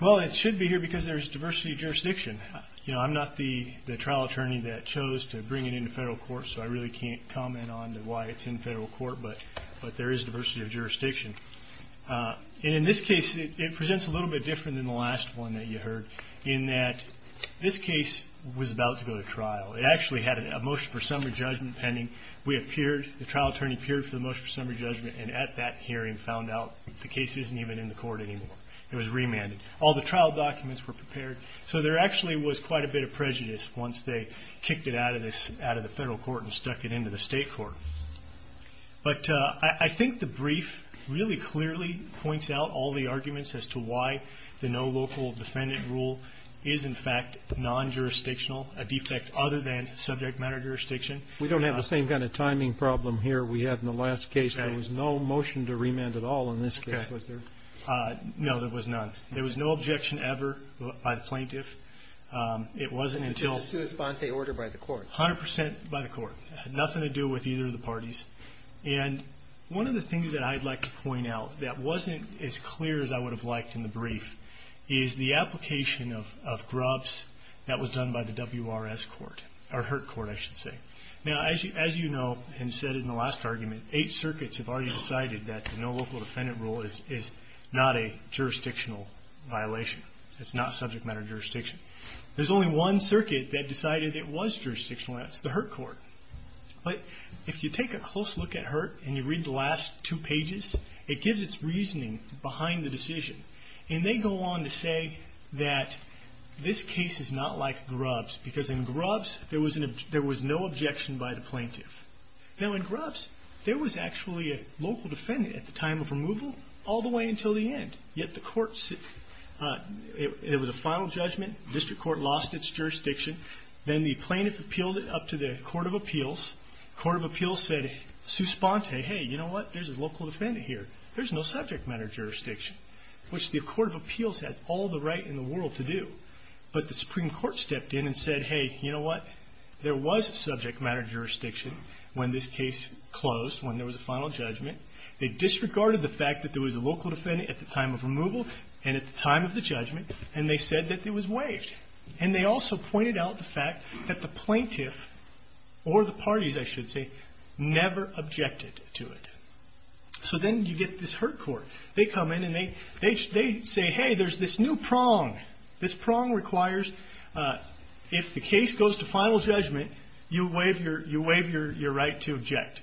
Well, it should be here because there is diversity of jurisdiction. You know, I'm not the trial attorney that chose to bring it into federal court, so I really can't comment on why it's in federal court, but there is diversity of jurisdiction. And in this case, it presents a little bit different than the last one that you heard, in that this case was about to go to trial. It actually had a motion for summary judgment pending. We appeared, the trial attorney appeared for the motion for summary judgment, and at that hearing found out that the case isn't even in the court anymore. It was remanded. All the trial documents were prepared, so there actually was quite a bit of prejudice once they kicked it out of the federal court and stuck it into the state court. But I think the brief really clearly points out all the arguments as to why the no local defendant rule is, in fact, non-jurisdictional, a defect other than subject matter jurisdiction. We don't have the same kind of timing problem here we had in the last case. There was no motion to remand at all in this case, was there? No, there was none. There was no objection ever by the plaintiff. It wasn't until It was a sui sponse order by the court. A hundred percent by the court. It had nothing to do with either of the parties. And one of the things that I'd like to point out that wasn't as clear as I would have liked in the brief is the application of Grubbs that was done by the WRS court, or HURT court I should say. Now, as you know, and said in the last argument, eight circuits have already decided that the no local defendant rule is not a jurisdictional violation. It's not subject matter jurisdiction. There's only one circuit that decided it was jurisdictional, and that's the HURT court. But if you take a close look at HURT and you read the last two pages, it gives its reasoning behind the decision. And they go on to say that this case is not like Grubbs because in Grubbs there was no objection by the plaintiff. Now in Grubbs there was actually a local defendant at the time of removal all the way until the end, yet the court, it was a final judgment. The district court lost its jurisdiction. Then the plaintiff appealed it up to the court of appeals. The court of appeals said, souspente, hey, you know what, there's a local defendant here. There's no subject matter jurisdiction, which the court of appeals has all the right in the world to do. But the Supreme Court stepped in and said, hey, you know what, there was subject matter jurisdiction when this case closed, when there was a final judgment. They disregarded the fact that there was a local defendant at the time of removal and at the time of the judgment, and they said that it the plaintiff or the parties, I should say, never objected to it. So then you get this Hurt Court. They come in and they say, hey, there's this new prong. This prong requires if the case goes to final judgment, you waive your right to object.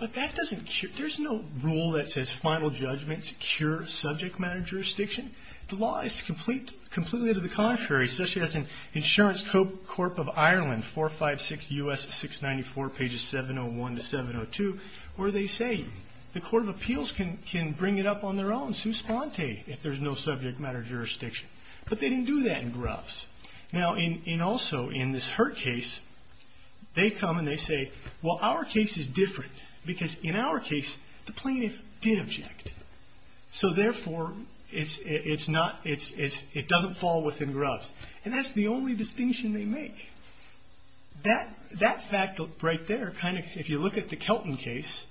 But that doesn't cure, there's no rule that says final judgments cure subject matter jurisdiction. The law is completely to the contrary, such as in Insurance Corp of Ireland, 456 U.S. 694, pages 701 to 702, where they say the court of appeals can bring it up on their own, souspente, if there's no subject matter jurisdiction. But they didn't do that in Grubbs. Now also in this Hurt case, they come and they say, well, our case is different because in our case, the plaintiff did object. So therefore, it doesn't fall within Grubbs. And that's the only distinction they make. That fact right there, if you look at the Kelton case,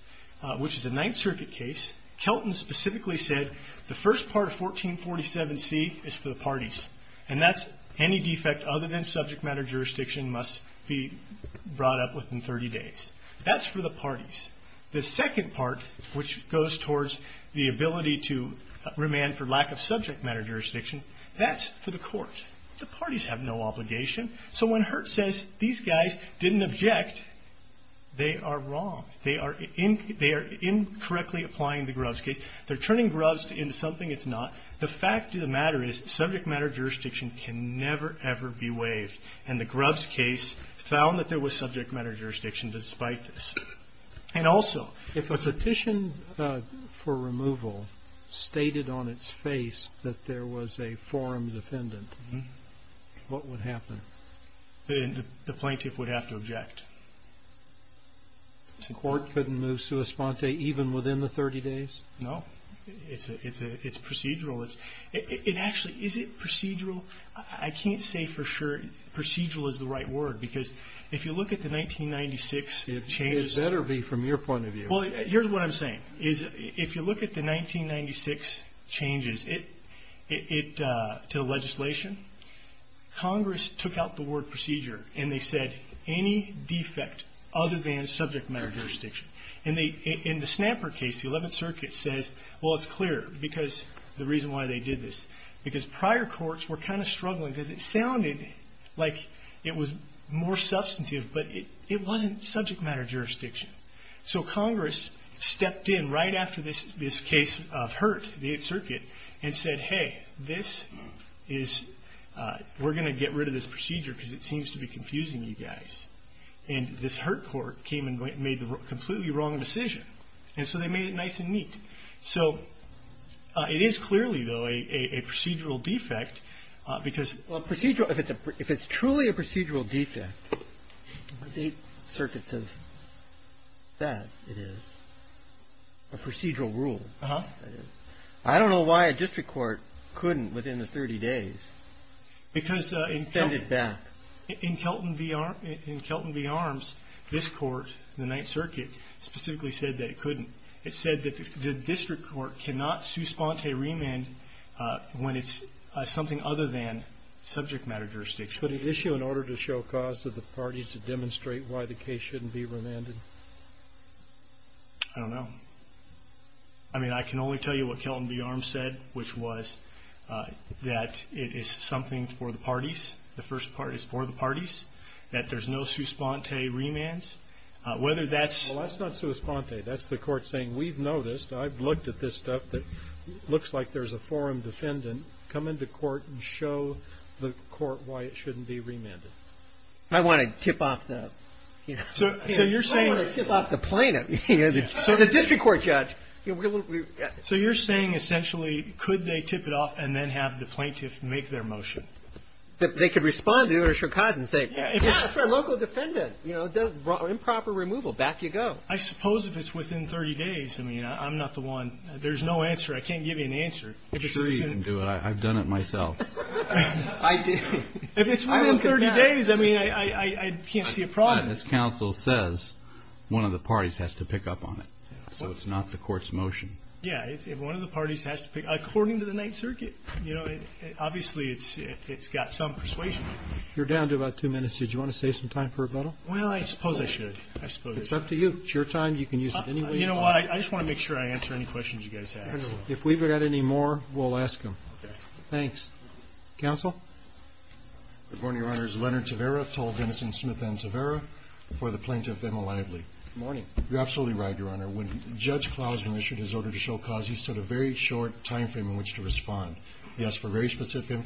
which is a Ninth Circuit case, Kelton specifically said the first part of 1447C is for the parties. And that's any defect other than subject matter jurisdiction must be brought up within 30 days. That's for the parties. The second part, which goes towards the ability to remand for lack of subject matter jurisdiction, that's for the court. The parties have no obligation. So when Hurt says these guys didn't object, they are wrong. They are incorrectly applying the Grubbs case. They're turning Grubbs into something it's not. The fact of the matter is subject matter jurisdiction can never, ever be waived. And the Grubbs case found that there was subject matter jurisdiction despite this. And also, if a petition for removal stated on its face that there was a forum defendant, what would happen? The plaintiff would have to object. The court couldn't move sui sponte even within the 30 days? No. It's procedural. It actually, is it procedural? I can't say for sure. Procedural is the right word. Because if you look at the 1996 changes. It better be from your point of view. Well, here's what I'm saying. If you look at the 1996 changes to the legislation, Congress took out the word procedure and they said, any defect other than subject matter jurisdiction. And in the Snapper case, the 11th Circuit says, well, it's clear. Because the reason it was more substantive. But it wasn't subject matter jurisdiction. So Congress stepped in right after this case of Hurt, the 8th Circuit, and said, hey, this is, we're going to get rid of this procedure because it seems to be confusing you guys. And this Hurt court came and made the completely wrong decision. And so they made it nice and neat. So it is clearly, though, a procedural defect. Because if it's truly a procedural defect, the 8th Circuit says that it is. A procedural rule. I don't know why a district court couldn't, within the 30 days, extend it back. Because in Kelton v. Arms, this court, the 9th Circuit, specifically said that it couldn't. It said that the district court cannot su sponte remand when it's something other than subject matter jurisdiction. Could it issue an order to show cause to the parties to demonstrate why the case shouldn't be remanded? I don't know. I mean, I can only tell you what Kelton v. Arms said, which was that it is something for the parties. The first part is for the parties. That there's no su sponte remands. Whether that's... Well, that's not su sponte. That's the court saying, we've noticed, I've looked at this and it's not a case of, you know, a local defendant coming to court and showing the court why it shouldn't be remanded. I want to tip off the plaintiff. The district court judge. So you're saying, essentially, could they tip it off and then have the plaintiff make their motion? They could respond to the order to show cause and say, yeah, it's for a local defendant. Improper removal. Back you go. I suppose if it's within 30 days. I mean, I'm not the one. There's no answer. I can't give you an answer. I'm sure you can do it. I've done it myself. If it's within 30 days, I mean, I can't see a problem. As counsel says, one of the parties has to pick up on it. So it's not the court's motion. Yeah, if one of the parties has to pick up, according to the Ninth Circuit, you know, obviously it's got some persuasion. You're down to about two minutes. Did you want to save some time for rebuttal? Well, I suppose I should. It's up to you. It's your time. You can use it any way you want. You know what? I just want to make sure I answer any questions you guys have. If we've got any more, we'll ask them. Okay. Thanks. Counsel? Good morning, Your Honor. It's Leonard Tavera, tall, venison, smith, and Tavera, before the plaintiff, Emma Lively. Good morning. You're absolutely right, Your Honor. When Judge Klausen issued his order to show cause, he set a very short timeframe in which to respond. He asked for very specific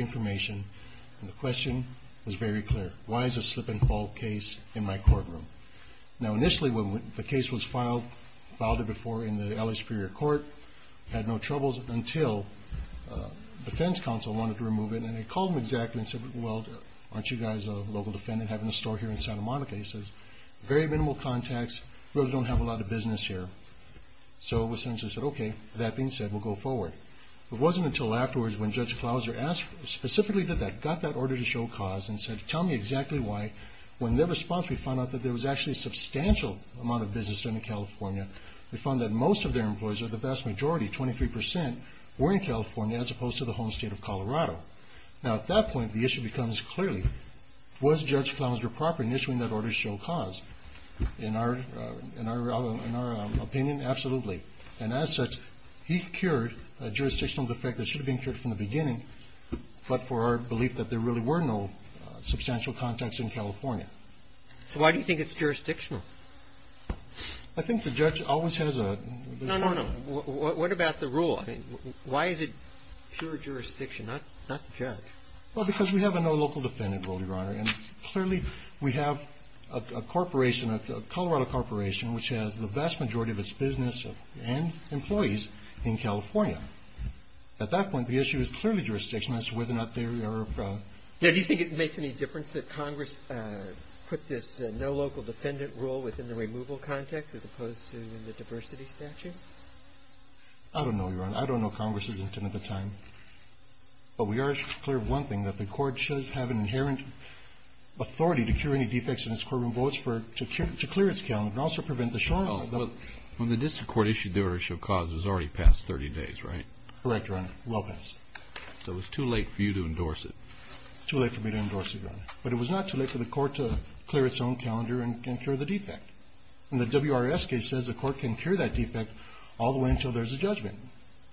information, and the question was very clear. Why is a slip-and-fall case in my courtroom? Now, initially, when the case was filed, filed it before in the L.A. Superior Court, had no troubles until defense counsel wanted to remove it. And he called them exactly and said, well, aren't you guys a local defendant having a store here in Santa Monica? He says, very minimal contacts, really don't have a lot of business here. So, in a sense, he said, okay, that being said, we'll go forward. It wasn't until afterwards when Judge Klausen asked, specifically did that, got that order to show cause, and said, tell me exactly why, when their response, we found out that there was actually a substantial amount of business done in California. We found that most of their employees, or the vast majority, 23%, were in California, as opposed to the home state of Colorado. Now, at that point, the issue becomes clearly, was Judge Klausen proper in issuing that order to show cause? In our opinion, absolutely. And as such, he cured a jurisdictional defect that should have been cured from the beginning, but for our belief that there really were no substantial contacts in California. So why do you think it's jurisdictional? I think the judge always has a... No, no, no. What about the rule? I mean, why is it pure jurisdiction, not the judge? Well, because we have a no local defendant rule, Your Honor. And clearly, we have a corporation, a Colorado corporation, which has the vast majority of its business and employees in California. At that point, the issue is clearly jurisdiction as to whether or not they are... Now, do you think it makes any difference that Congress put this no local defendant rule within the removal context, as opposed to the diversity statute? I don't know, Your Honor. I don't know Congress's intent at the time. But we are clear of one thing, that the court should have an inherent authority to cure any defects in its courtroom votes to clear its calendar and also prevent the showing of... When the district court issued the order to show cause, it was already past 30 days, right? Correct, Your Honor. Well past. So it was too late for you to endorse it. It was too late for me to endorse it, Your Honor. But it was not too late for the court to clear its own calendar and cure the defect. And the WRS case says the court can cure that defect all the way until there's a judgment.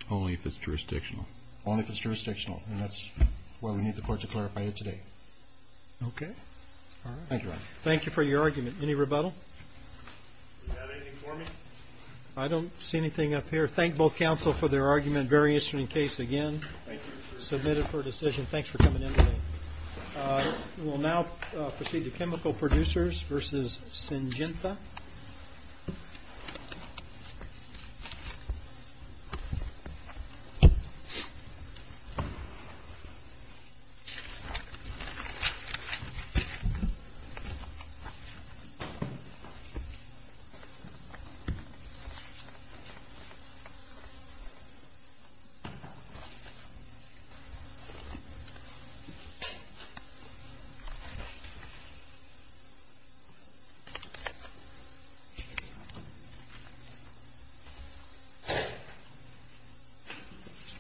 Only if it's jurisdictional. Only if it's jurisdictional. And that's why we need the court to clarify it today. Okay. All right. Thank you, Your Honor. Thank you for your argument. Any rebuttal? Do you have anything for me? I don't see anything up here. Thank both counsel for their argument. Very interesting case again. Thank you. Submitted for decision. Thanks for coming in today. We'll now proceed to chemical producers versus Syngenta.